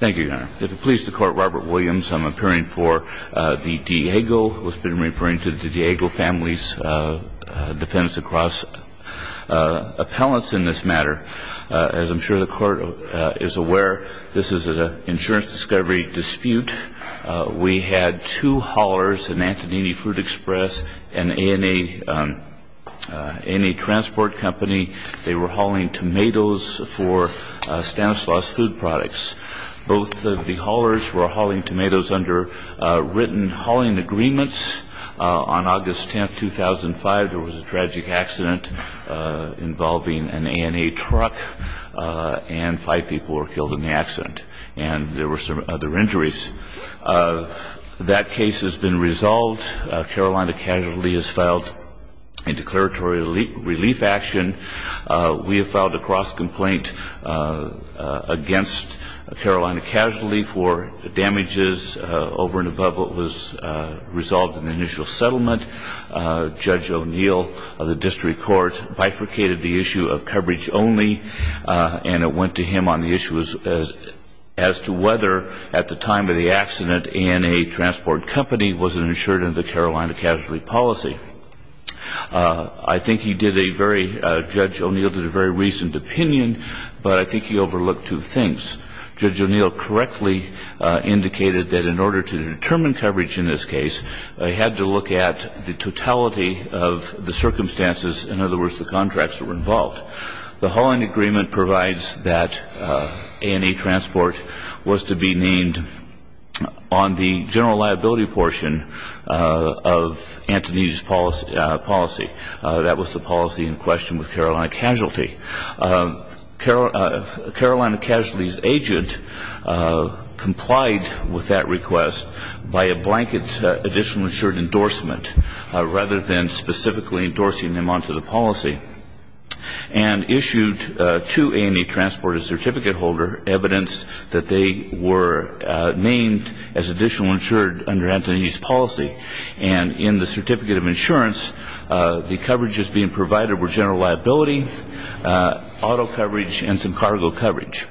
Thank you, Your Honor. If it pleases the Court, Robert Williams, I'm appearing for the Diego, who has been referring to the Diego family's defense across appellants in this matter. As I'm sure the Court is aware, this is an insurance discovery dispute. We had two haulers, an Antonini Fruit Express, an A&E transport company. They were hauling tomatoes for Stanislaus Food Products. Both of the haulers were hauling tomatoes under written hauling agreements. On August 10, 2005, there was a tragic accident involving an A&E truck, and five people were killed in the accident. And there were some other injuries. That case has been resolved. Carolina Casualty has filed a declaratory relief action. We have filed a cross-complaint against Carolina Casualty for damages over and above what was resolved in the initial case, as to whether, at the time of the accident, an A&E transport company was insured under the Carolina Casualty policy. I think he did a very – Judge O'Neill did a very recent opinion, but I think he overlooked two things. Judge O'Neill correctly indicated that in order to determine coverage in this case, they had to look at the totality of the circumstances, in other words, the contracts that were A&E transport was to be named on the general liability portion of Antonini's policy. That was the policy in question with Carolina Casualty. Carolina Casualty's agent complied with that request by a blanket additional insured endorsement, rather than specifically endorsing them onto the that they were named as additional insured under Antonini's policy. And in the certificate of insurance, the coverages being provided were general liability, auto coverage, and some cargo coverage.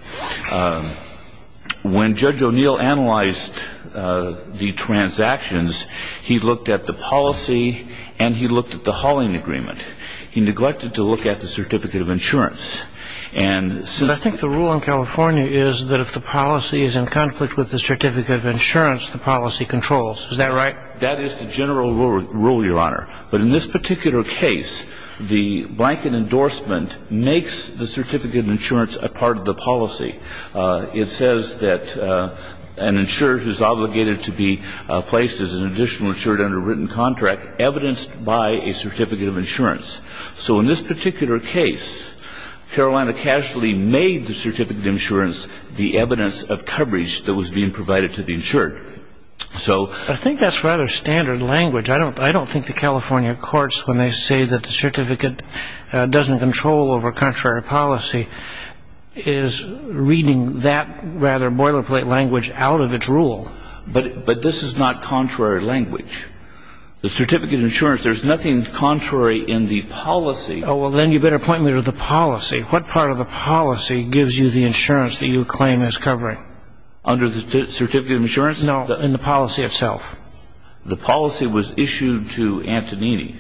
When Judge O'Neill analyzed the transactions, he looked at the policy and he is in conflict with the certificate of insurance the policy controls. Is that right? That is the general rule, Your Honor. But in this particular case, the blanket endorsement makes the certificate of insurance a part of the policy. It says that an insured is obligated to be placed as an additional insured under a written contract, evidenced by a certificate of insurance. So in this particular case, Carolina Casualty made the coverage that was being provided to the insured. I think that's rather standard language. I don't think the California courts, when they say that the certificate doesn't control over contrary policy, is reading that rather boilerplate language out of its rule. But this is not contrary language. The certificate of insurance, there's nothing contrary in the policy. Then you better point me to the policy. What part of the policy gives you the assurance that you claim is covering? Under the certificate of insurance? No, in the policy itself. The policy was issued to Antonini.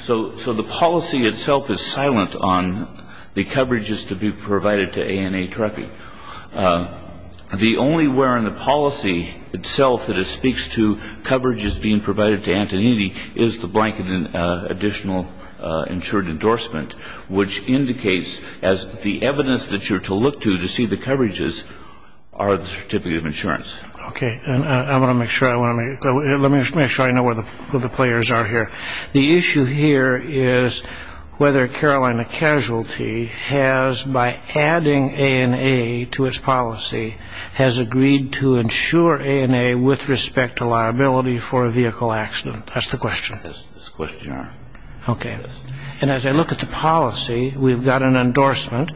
So the policy itself is silent on the coverages to be provided to ANA trucking. The only where in the policy itself that it speaks to coverages being are the certificate of insurance. Okay. Let me make sure I know where the players are here. The issue here is whether Carolina Casualty has, by adding ANA to its policy, has agreed to insure ANA with respect to liability for a vehicle accident. That's the question. Yes, that's the question, Your Honor. Okay. And as I look at the policy, we've got an endorsement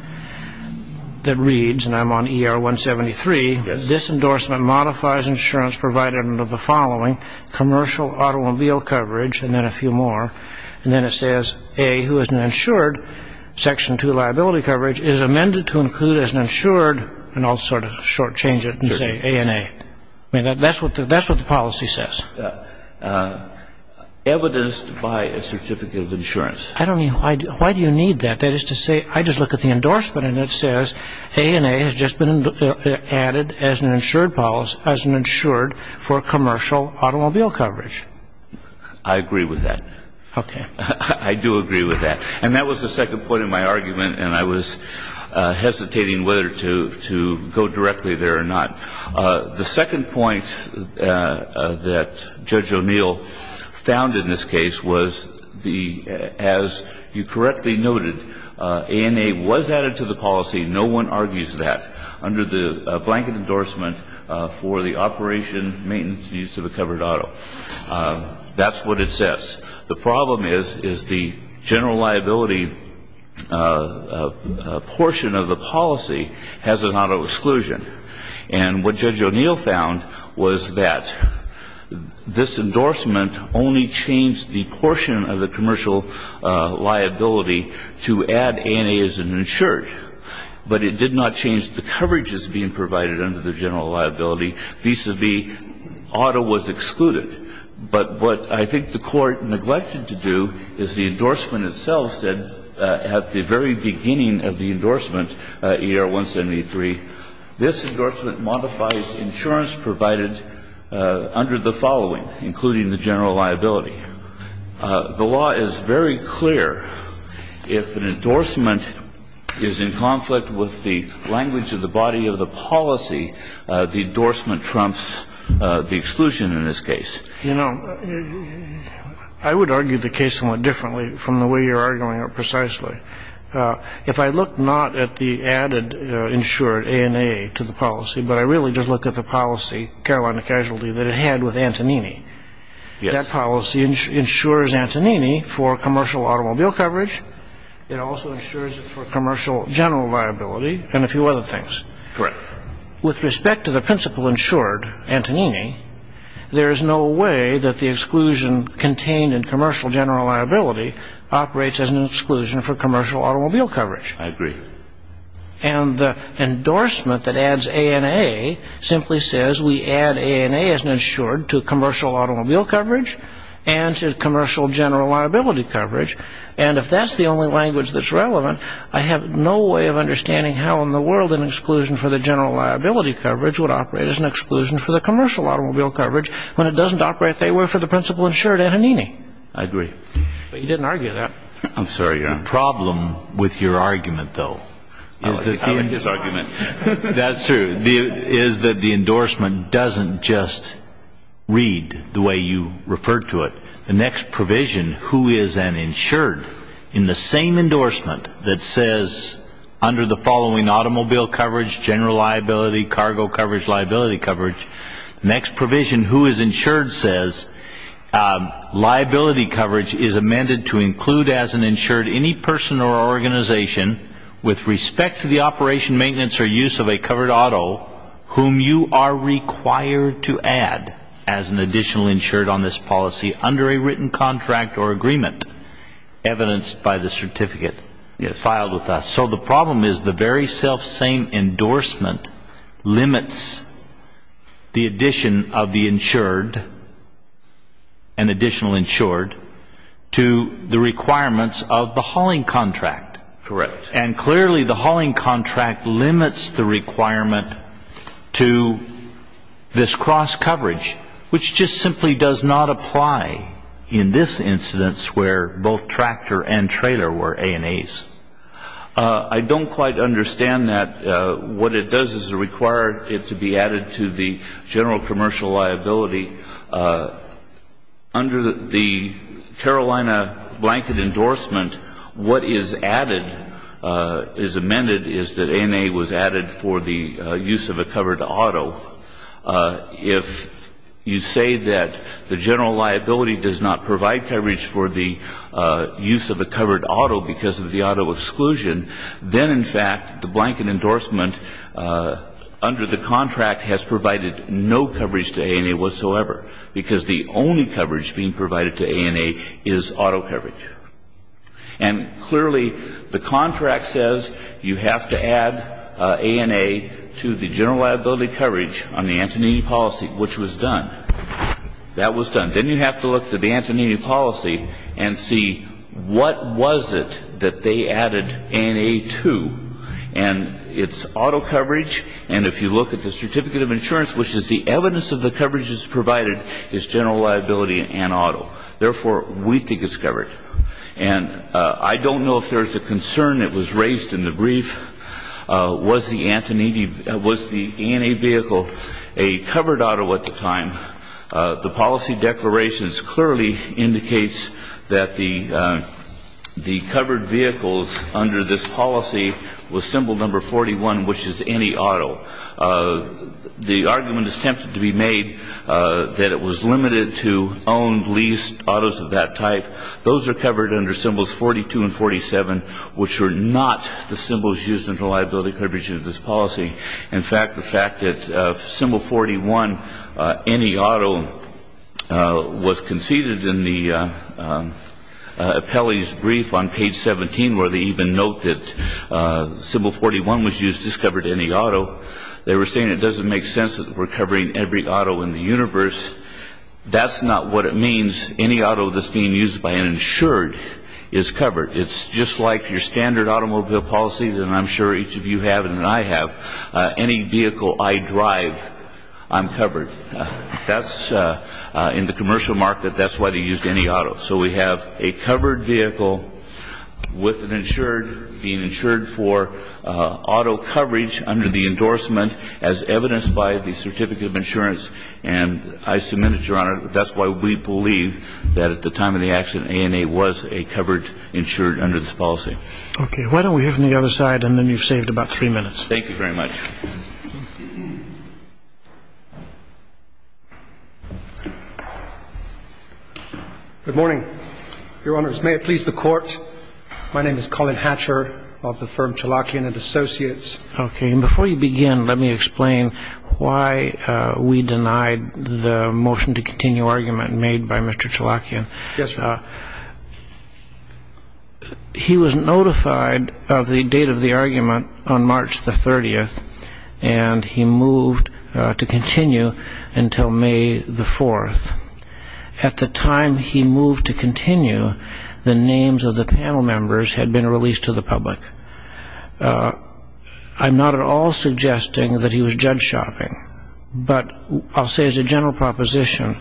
that reads, and I'm on ER 173, this endorsement modifies insurance provided under the following, commercial automobile coverage, and then a few more. And then it says, A, who has been insured, section 2, liability coverage, is amended to include as an insured, and I'll sort of shortchange it and say ANA. That's what the policy says. It's not evidenced by a certificate of insurance. I don't know why you need that. That is to say, I just look at the endorsement and it says, ANA has just been added as an insured policy, as an insured for commercial automobile coverage. I agree with that. Okay. I do agree with that. And that was the second point in my argument, and I was hesitating whether to go directly there or not. The second point that Judge O'Neill found in this case was the, as you correctly noted, ANA was added to the policy, no one argues that, under the blanket endorsement for the operation, maintenance, and use of a covered auto. That's what it says. The problem is, is the general liability portion of the policy has an auto exclusion. And what Judge O'Neill found was that this endorsement only changed the portion of the commercial liability to add ANA as an insured, but it did not change the coverage that's being provided under the general liability. Vis-a-vis, auto was excluded. But what I think the Court neglected to do is the endorsement itself said, at the very beginning of the endorsement, ER-173, this endorsement modifies insurance provided under the following, including the general liability. The law is very clear. If an endorsement is in conflict with the language of the body of the policy, the endorsement trumps the exclusion in this case. You know, I would argue the case somewhat differently from the way you're arguing it precisely. If I look not at the added insured ANA to the policy, but I really just look at the policy, Carolina Casualty, that it had with Antonini, that policy insures Antonini for commercial automobile coverage. It also insures it for commercial general liability and a few other things. Correct. With respect to the principal insured, Antonini, there is no way that the exclusion contained in commercial general liability operates as an exclusion for commercial automobile coverage. I agree. And the endorsement that adds ANA simply says we add ANA as an insured to commercial automobile coverage and to commercial general liability coverage. And if that's the only language that's relevant, I have no way of understanding how in the world an exclusion for the general liability coverage would operate as an exclusion for the commercial automobile coverage when it doesn't operate, say, for the principal insured Antonini. I agree. But you didn't argue that. I'm sorry, Your Honor. The problem with your argument, though. I like his argument. That's true, is that the endorsement doesn't just read the way you referred to it. The next provision, who is an insured in the same endorsement that says under the following automobile coverage, general liability, cargo coverage, liability coverage, next provision, who is insured says liability coverage is amended to include as an insured any person or organization with respect to the operation, maintenance, or use of a covered auto whom you are required to add as an additional insured on this policy under a written contract or agreement evidenced by the certificate filed with us. So the problem is the very selfsame endorsement limits the addition of the insured, an additional insured, to the requirements of the hauling contract. Correct. And clearly the hauling contract limits the requirement to this cross coverage, which just simply does not apply in this incidence where both tractor and trailer were A&As. I don't quite understand that. What it does is require it to be added to the general commercial liability. Under the Carolina blanket endorsement, what is added, is amended, is that A&A was added for the use of a covered auto. If you say that the general liability does not provide coverage for the use of a covered auto because of the auto exclusion, then in fact the blanket endorsement under the contract has provided no coverage to A&A whatsoever because the only coverage being provided to A&A is auto coverage. And clearly the contract says you have to add A&A to the general liability coverage on the Antonini policy, which was done. That was done. Then you have to look to the Antonini policy and see what was it that they added A&A to. And it's auto coverage. And if you look at the certificate of insurance, which is the evidence of the coverage that's provided, it's general liability and auto. Therefore, we think it's covered. And I don't know if there's a concern that was raised in the brief. Was the Antonini, was the A&A vehicle a covered auto at the time? The policy declarations clearly indicates that the covered vehicles under this policy was symbol number 41, which is any auto. The argument is tempted to be made that it was limited to owned, leased autos of that type. Those are covered under symbols 42 and 47, which are not the symbols used under liability coverage of this policy. In fact, the fact that symbol 41, any auto, was conceded in the appellee's brief on page 17, where they even note that symbol 41 was used as covered any auto. They were saying it doesn't make sense that we're covering every auto in the universe. That's not what it means. Any auto that's being used by an insured is covered. It's just like your standard automobile policy that I'm sure each of you have and I have. Any vehicle I drive, I'm covered. That's in the commercial market, that's why they used any auto. So we have a covered vehicle with an insured being insured for auto coverage under the endorsement as evidenced by the certificate of insurance. And I submitted, Your Honor, that's why we believe that at the time of the accident ANA was a covered insured under this policy. Okay. Why don't we hear from the other side, and then you've saved about three minutes. Thank you very much. Good morning, Your Honors. May it please the Court. My name is Colin Hatcher of the firm Chalakian and Associates. Okay. And before you begin, let me explain why we denied the motion to continue argument made by Mr. Chalakian. Yes. He was notified of the date of the argument on March the 30th, and he moved to continue until May the 4th. At the time he moved to continue, the names of the panel members had been released to the public. I'm not at all suggesting that he was judge shopping, but I'll say as a general proposition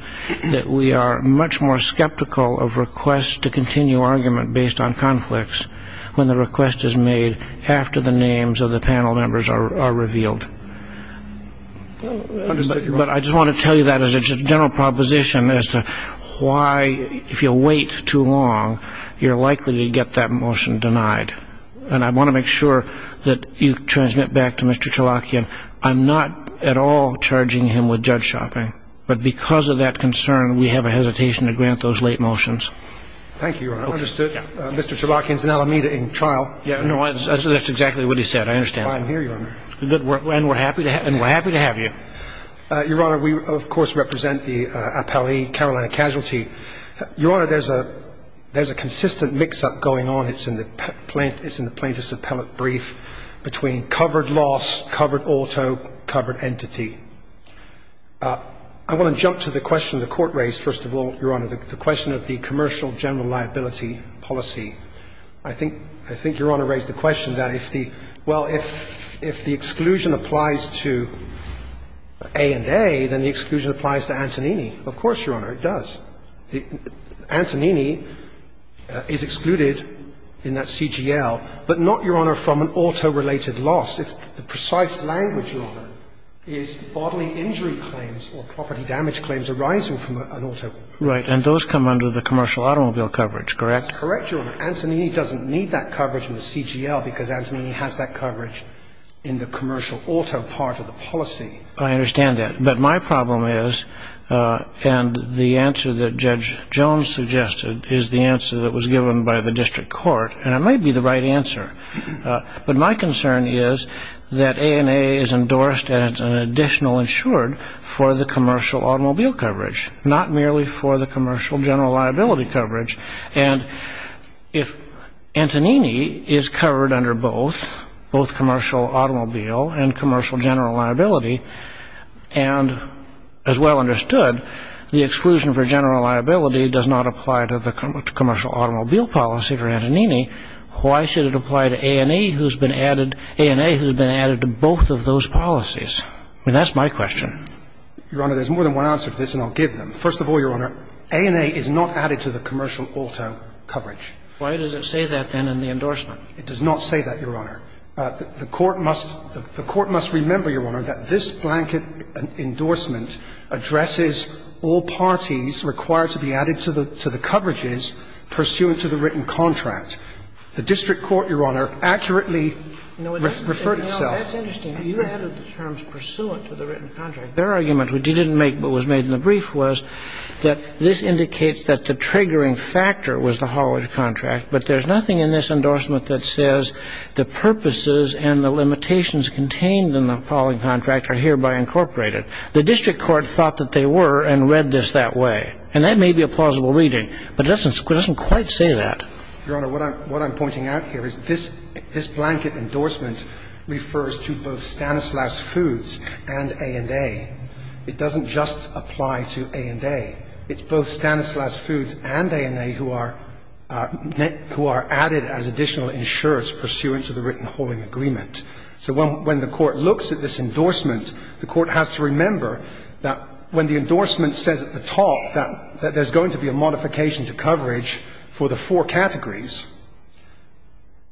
that we are much more skeptical of requests to continue argument based on conflicts when the request is made after the names of the panel members are revealed. Understood, Your Honor. But I just want to tell you that as a general proposition as to why, if you wait too long, you're likely to get that motion denied. And I want to make sure that you transmit back to Mr. Chalakian, I'm not at all charging him with judge shopping, but because of that concern, we have a hesitation to grant those late motions. Thank you, Your Honor. Understood. Mr. Chalakian is now in trial. No, that's exactly what he said. I understand. That's why I'm here, Your Honor. And we're happy to have you. Your Honor, we, of course, represent the appellee, Carolina Casualty. Your Honor, there's a consistent mix-up going on. It's in the plaintiff's appellate brief between covered loss, covered auto, covered entity. I want to jump to the question the Court raised, first of all, Your Honor, the question of the commercial general liability policy. I think Your Honor raised the question that if the exclusion applies to A and A, then the exclusion applies to Antonini. Of course, Your Honor, it does. Antonini is excluded in that CGL, but not, Your Honor, from an auto-related loss. The precise language, Your Honor, is bodily injury claims or property damage claims arising from an auto. Right. And those come under the commercial automobile coverage, correct? That's correct, Your Honor. Antonini doesn't need that coverage in the CGL, because Antonini has that coverage in the commercial auto part of the policy. I understand that. But my problem is, and the answer that Judge Jones suggested is the answer that was given by the district court, and it might be the right answer, but my concern is that A and A is endorsed as an additional insured for the commercial automobile coverage, not merely for the commercial general liability coverage. And if Antonini is covered under both, both commercial automobile and commercial general liability, and as well understood, the exclusion for general liability does not apply to the commercial automobile policy for Antonini, why should it apply to A and A who has been added to both of those policies? I mean, that's my question. Your Honor, there's more than one answer to this, and I'll give them. First of all, Your Honor, A and A is not added to the commercial auto coverage. Why does it say that, then, in the endorsement? It does not say that, Your Honor. The court must remember, Your Honor, that this blanket endorsement addresses all parties required to be added to the coverages pursuant to the written contract. The district court, Your Honor, accurately referred itself. That's interesting. You added the terms pursuant to the written contract. Their argument, which you didn't make but was made in the brief, was that this indicates that the triggering factor was the haulage contract, but there's nothing in this endorsement that says the purposes and the limitations contained in the hauling contract are hereby incorporated. The district court thought that they were and read this that way. And that may be a plausible reading, but it doesn't quite say that. Your Honor, what I'm pointing out here is this blanket endorsement refers to both Stanislaus Foods and A&A. It doesn't just apply to A&A. It's both Stanislaus Foods and A&A who are added as additional insurers pursuant to the written hauling agreement. So when the court looks at this endorsement, the court has to remember that when the endorsement says at the top that there's going to be a modification to coverage for the four categories,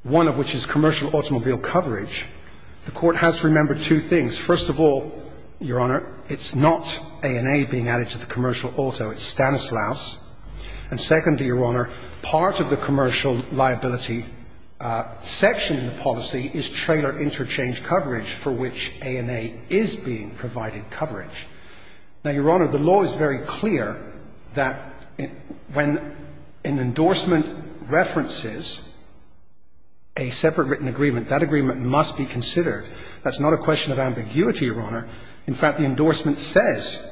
one of which is commercial automobile coverage, the court has to remember two things. First of all, Your Honor, it's not A&A being added to the commercial auto. It's Stanislaus. And secondly, Your Honor, part of the commercial liability section in the policy is trailer interchange coverage for which A&A is being provided coverage. Now, Your Honor, the law is very clear that when an endorsement references a separate written agreement, that agreement must be considered. That's not a question of ambiguity, Your Honor. In fact, the endorsement says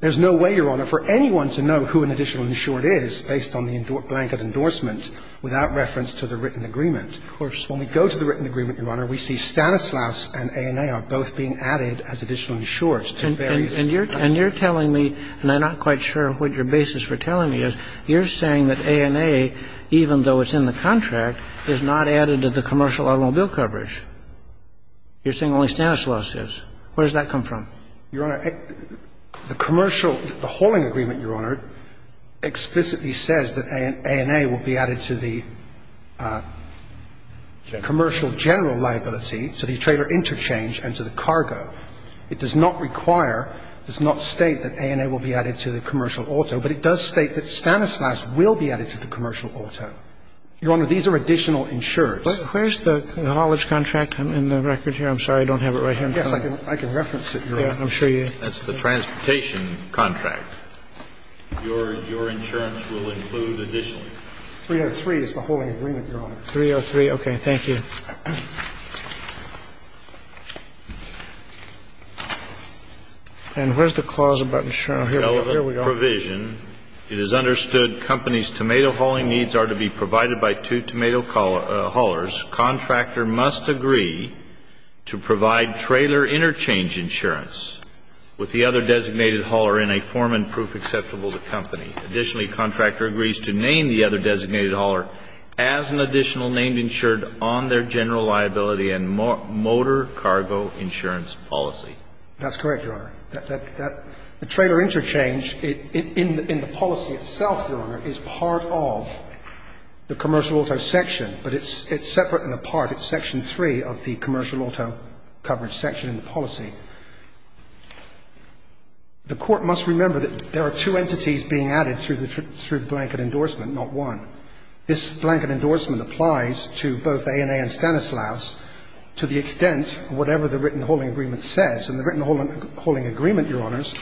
there's no way, Your Honor, for anyone to know who an additional insured is based on the blanket endorsement without reference to the written agreement. Of course. When we go to the written agreement, Your Honor, we see Stanislaus and A&A are both being added as additional insureds to various ---- And you're telling me, and I'm not quite sure what your basis for telling me is, you're saying that A&A, even though it's in the contract, is not added to the commercial automobile coverage. You're saying only Stanislaus is. Where does that come from? Your Honor, the commercial ---- the hauling agreement, Your Honor, explicitly says that A&A will be added to the commercial general liability, to the trailer interchange and to the cargo. It does not require, does not state that A&A will be added to the commercial auto, but it does state that Stanislaus will be added to the commercial auto. Your Honor, these are additional insureds. Where's the haulage contract in the record here? I'm sorry, I don't have it right here. Yes, I can reference it, Your Honor. I'm sure you do. That's the transportation contract. Your insurance will include additionally. 303 is the hauling agreement, Your Honor. 303. Thank you. And where's the clause about insurance? Here we go. Here we go. It is understood company's tomato hauling needs are to be provided by two tomato haulers. Contractor must agree to provide trailer interchange insurance with the other designated hauler in a form and proof acceptable to company. Additionally, contractor agrees to name the other designated hauler as an additional named insured on their general liability and motor cargo insurance policy. That's correct, Your Honor. The trailer interchange in the policy itself, Your Honor, is part of the commercial auto section, but it's separate and apart. It's section three of the commercial auto coverage section in the policy. The court must remember that there are two entities being added through the blanket endorsement, not one. This blanket endorsement applies to both ANA and Stanislaus to the extent whatever the hauling agreement, Your Honors,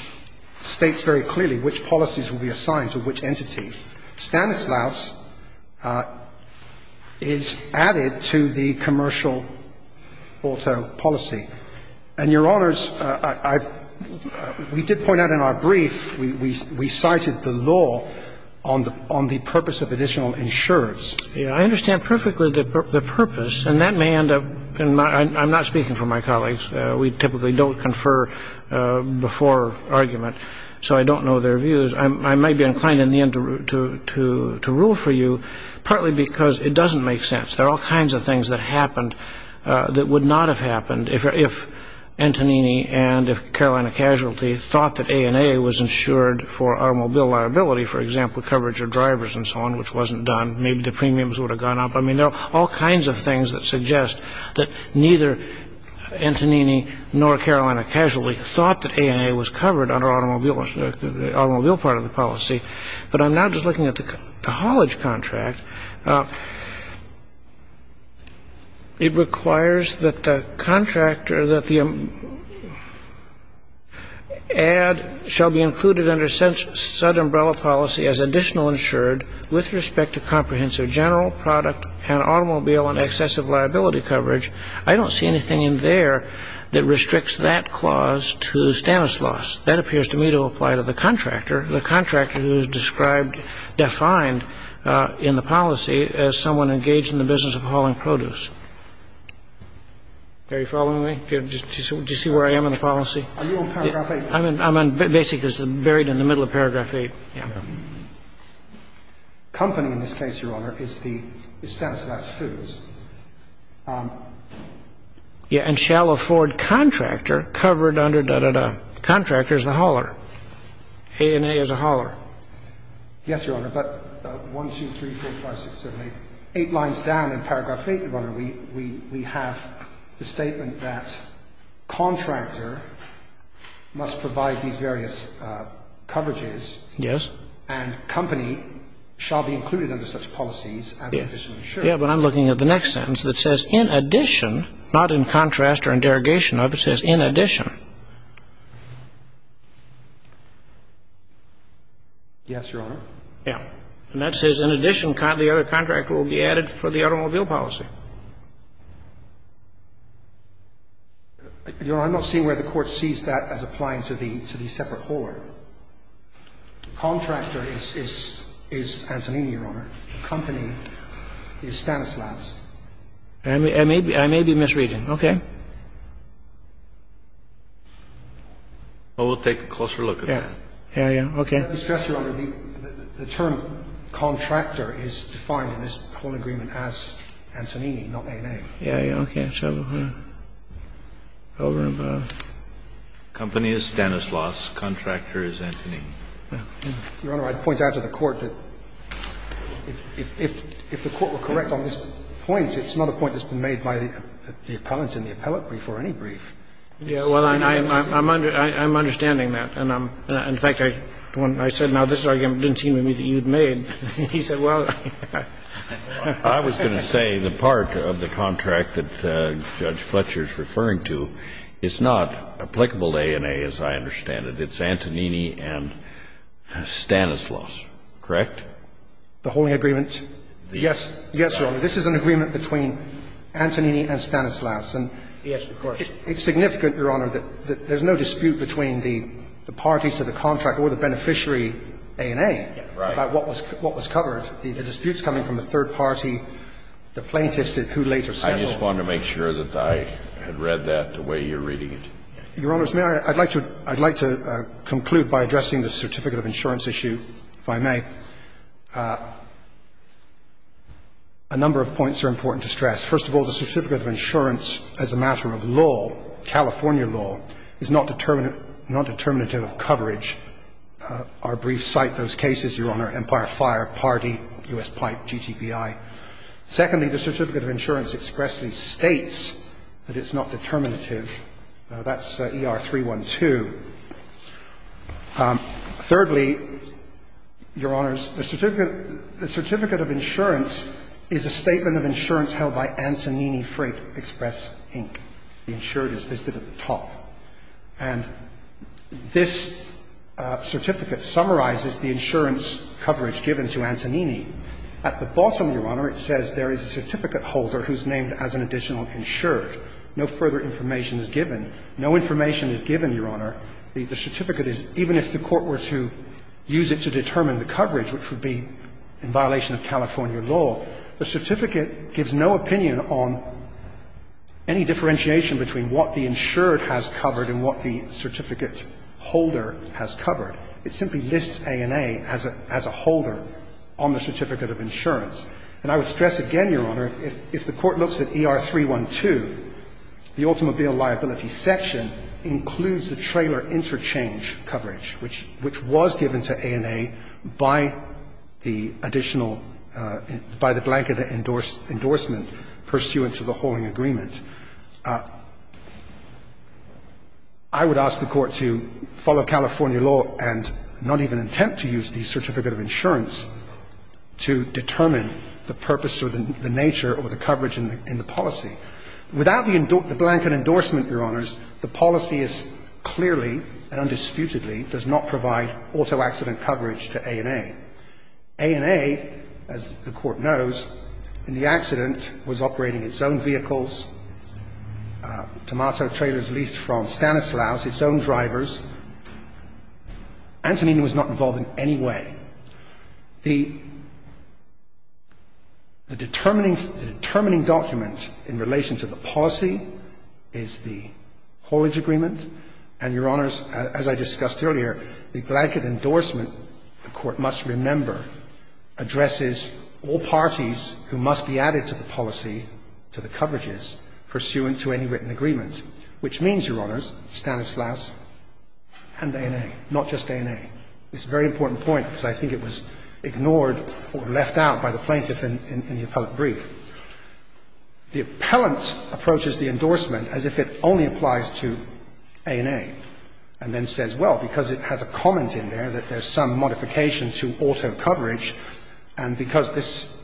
states very clearly which policies will be assigned to which entity. Stanislaus is added to the commercial auto policy. And, Your Honors, we did point out in our brief, we cited the law on the purpose of additional insurance. Yeah, I understand perfectly the purpose, and that may end up, and I'm not speaking for my colleagues. We typically don't confer before argument, so I don't know their views. I might be inclined in the end to rule for you, partly because it doesn't make sense. There are all kinds of things that happened that would not have happened if Antonini and if Carolina Casualty thought that ANA was insured for automobile liability, for example, coverage of drivers and so on, which wasn't done. Maybe the premiums would have gone up. I mean, there are all kinds of things that suggest that neither Antonini nor Carolina Casualty thought that ANA was covered under automobile part of the policy. But I'm now just looking at the haulage contract. It requires that the contractor, that the add shall be included under sub-umbrella policy as additional insured with respect to comprehensive general product and automobile and excessive liability coverage. I don't see anything in there that restricts that clause to status loss. That appears to me to apply to the contractor, the contractor who is described, defined in the policy as someone engaged in the business of hauling produce. Are you following me? Do you see where I am in the policy? Are you on paragraph 8? I'm on basic because I'm buried in the middle of paragraph 8. Company in this case, Your Honor, is the status loss of foods. Yeah, and shall afford contractor covered under da-da-da. Contractor is a hauler. ANA is a hauler. Yes, Your Honor, but 1, 2, 3, 4, 5, 6, 7, 8, 8 lines down in paragraph 8, Your Honor. We have the statement that contractor must provide these various coverages. Yes. And company shall be included under such policies as additional insured. Yeah, but I'm looking at the next sentence that says, in addition, not in contrast or in derogation of, it says, in addition. Yes, Your Honor. Yes. And that says, in addition, the other contractor will be added for the automobile policy. Your Honor, I'm not seeing where the Court sees that as applying to the separate hauler. Contractor is Antonini, Your Honor. Company is status loss. I may be misreading. Okay. Well, we'll take a closer look at that. Yeah, yeah. Okay. Let me stress, Your Honor, the term contractor is defined in this whole agreement as Antonini, not ANA. Yeah, okay. So over and above. Company is status loss. Contractor is Antonini. Your Honor, I'd point out to the Court that if the Court were correct on this point, it's not a point that's been made by the appellant in the appellate brief or any brief. Yeah, well, I'm understanding that. And, in fact, when I said, now, this argument didn't seem to me that you'd made, he said, well. I was going to say the part of the contract that Judge Fletcher is referring to, it's not applicable to ANA as I understand it. It's Antonini and status loss. Correct? The hauling agreement, yes, Your Honor. This is an agreement between Antonini and status loss. Yes, of course. It's significant, Your Honor, that there's no dispute between the parties to the contract or the beneficiary, ANA, about what was covered. The dispute's coming from the third party, the plaintiffs who later settled. I just wanted to make sure that I had read that the way you're reading it. Your Honors, may I? I'd like to conclude by addressing the certificate of insurance issue, if I may. A number of points are important to stress. First of all, the certificate of insurance as a matter of law, California law, is not determinative of coverage. Our briefs cite those cases, Your Honor, Empire Fire Party, U.S. Pipe, GTPI. Secondly, the certificate of insurance expressly states that it's not determinative. That's ER 312. Thirdly, Your Honors, the certificate of insurance is a statement of insurance held by Ansonini Freight Express, Inc. The insured is listed at the top. And this certificate summarizes the insurance coverage given to Ansonini. At the bottom, Your Honor, it says there is a certificate holder who's named as an additional insured. No further information is given. No information is given, Your Honor. The certificate is, even if the court were to use it to determine the coverage, which would be in violation of California law, the certificate gives no opinion on any differentiation between what the insured has covered and what the certificate holder has covered. It simply lists ANA as a holder on the certificate of insurance. And I would stress again, Your Honor, if the court looks at ER 312, the automobile liability section includes the trailer interchange coverage, which was given to ANA by the additional, by the blanket endorsement pursuant to the holding agreement. I would ask the court to follow California law and not even attempt to use the certificate of insurance to determine the purpose or the nature or the coverage in the policy. Without the blanket endorsement, Your Honors, the policy is clearly and undisputedly does not provide auto accident coverage to ANA. ANA, as the court knows, in the accident was operating its own vehicles, tomato trailers leased from Stanislaus, its own drivers. Antonina was not involved in any way. The determining document in relation to the policy is the haulage agreement. And, Your Honors, as I discussed earlier, the blanket endorsement, the court must remember, addresses all parties who must be added to the policy, to the coverages, pursuant to any written agreement, which means, Your Honors, Stanislaus and ANA, not just ANA. It's a very important point because I think it was ignored or left out by the plaintiff in the appellate brief. The appellant approaches the endorsement as if it only applies to ANA and then says, well, because it has a comment in there that there's some modification to auto coverage and because this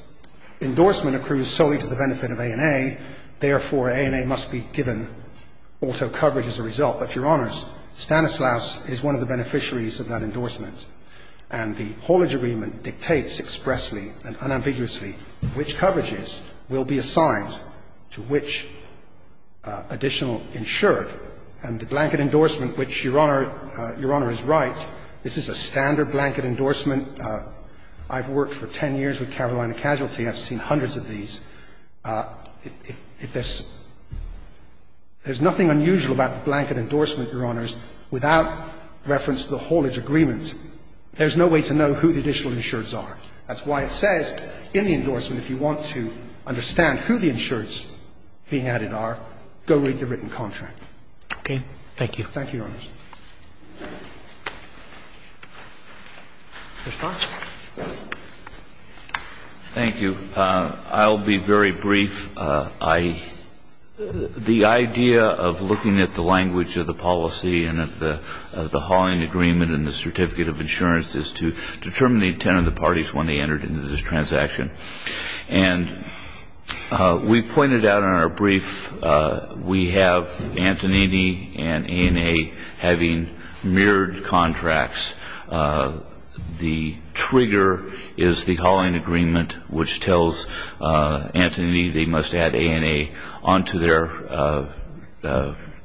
endorsement accrues solely to the benefit of ANA, therefore, ANA must be given auto coverage as a result. But, Your Honors, Stanislaus is one of the beneficiaries of that endorsement and the haulage agreement dictates expressly and unambiguously which coverages will be assigned to which additional insured. And the blanket endorsement, which, Your Honor, Your Honor is right, this is a standard blanket endorsement. I've worked for 10 years with Carolina Casualty. I've seen hundreds of these. There's nothing unusual about the blanket endorsement, Your Honors, without reference to the haulage agreement. There's no way to know who the additional insureds are. That's why it says in the endorsement, if you want to understand who the insureds being added are, go read the written contract. Okay. Thank you. Thank you, Your Honors. Mr. Spence. Thank you. I'll be very brief. I the idea of looking at the language of the policy and at the hauling agreement and the certificate of insurance is to determine the intent of the parties when they entered into this transaction. And we pointed out in our brief we have Antonini and ANA having mirrored contracts. The trigger is the hauling agreement, which tells Antonini they must add ANA onto their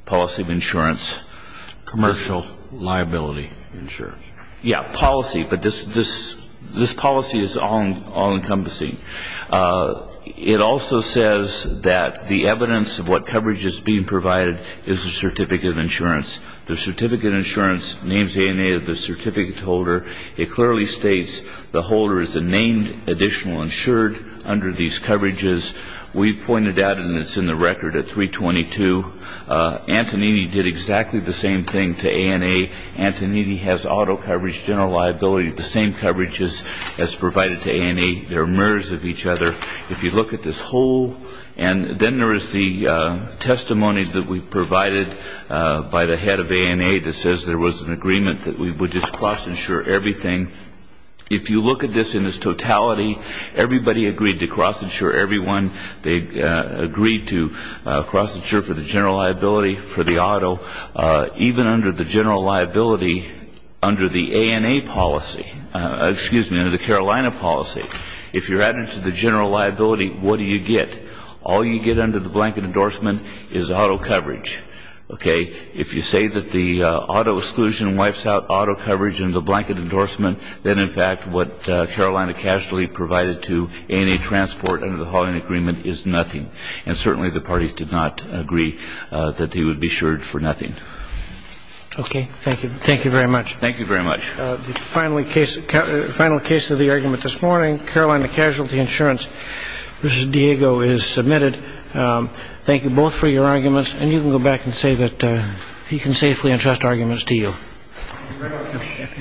policy of insurance. Commercial liability insurance. Yeah. Policy. But this policy is all-encompassing. It also says that the evidence of what coverage is being provided is the certificate of insurance. The certificate of insurance names ANA the certificate holder. It clearly states the holder is a named additional insured under these coverages. We've pointed out, and it's in the record, at 322. Antonini did exactly the same thing to ANA. Antonini has auto coverage, general liability, the same coverages as provided to ANA. They're mirrors of each other. If you look at this whole, and then there is the testimony that we provided by the head of ANA that says there was an agreement that we would just cross-insure everything. If you look at this in its totality, everybody agreed to cross-insure everyone. They agreed to cross-insure for the general liability, for the auto. Even under the general liability, under the ANA policy, excuse me, under the Carolina policy, if you're added to the general liability, what do you get? All you get under the blanket endorsement is auto coverage. Okay? If you say that the auto exclusion wipes out auto coverage in the blanket endorsement, then, in fact, what Carolina Casualty provided to ANA transport under the Hauling Agreement is nothing. And certainly the parties did not agree that they would be insured for nothing. Okay. Thank you. Thank you very much. Thank you very much. The final case of the argument this morning, Carolina Casualty Insurance versus Diego, is submitted. Thank you both for your arguments. And you can go back and say that he can safely entrust arguments to you. Thank you. Thank you. Thank you. All rise.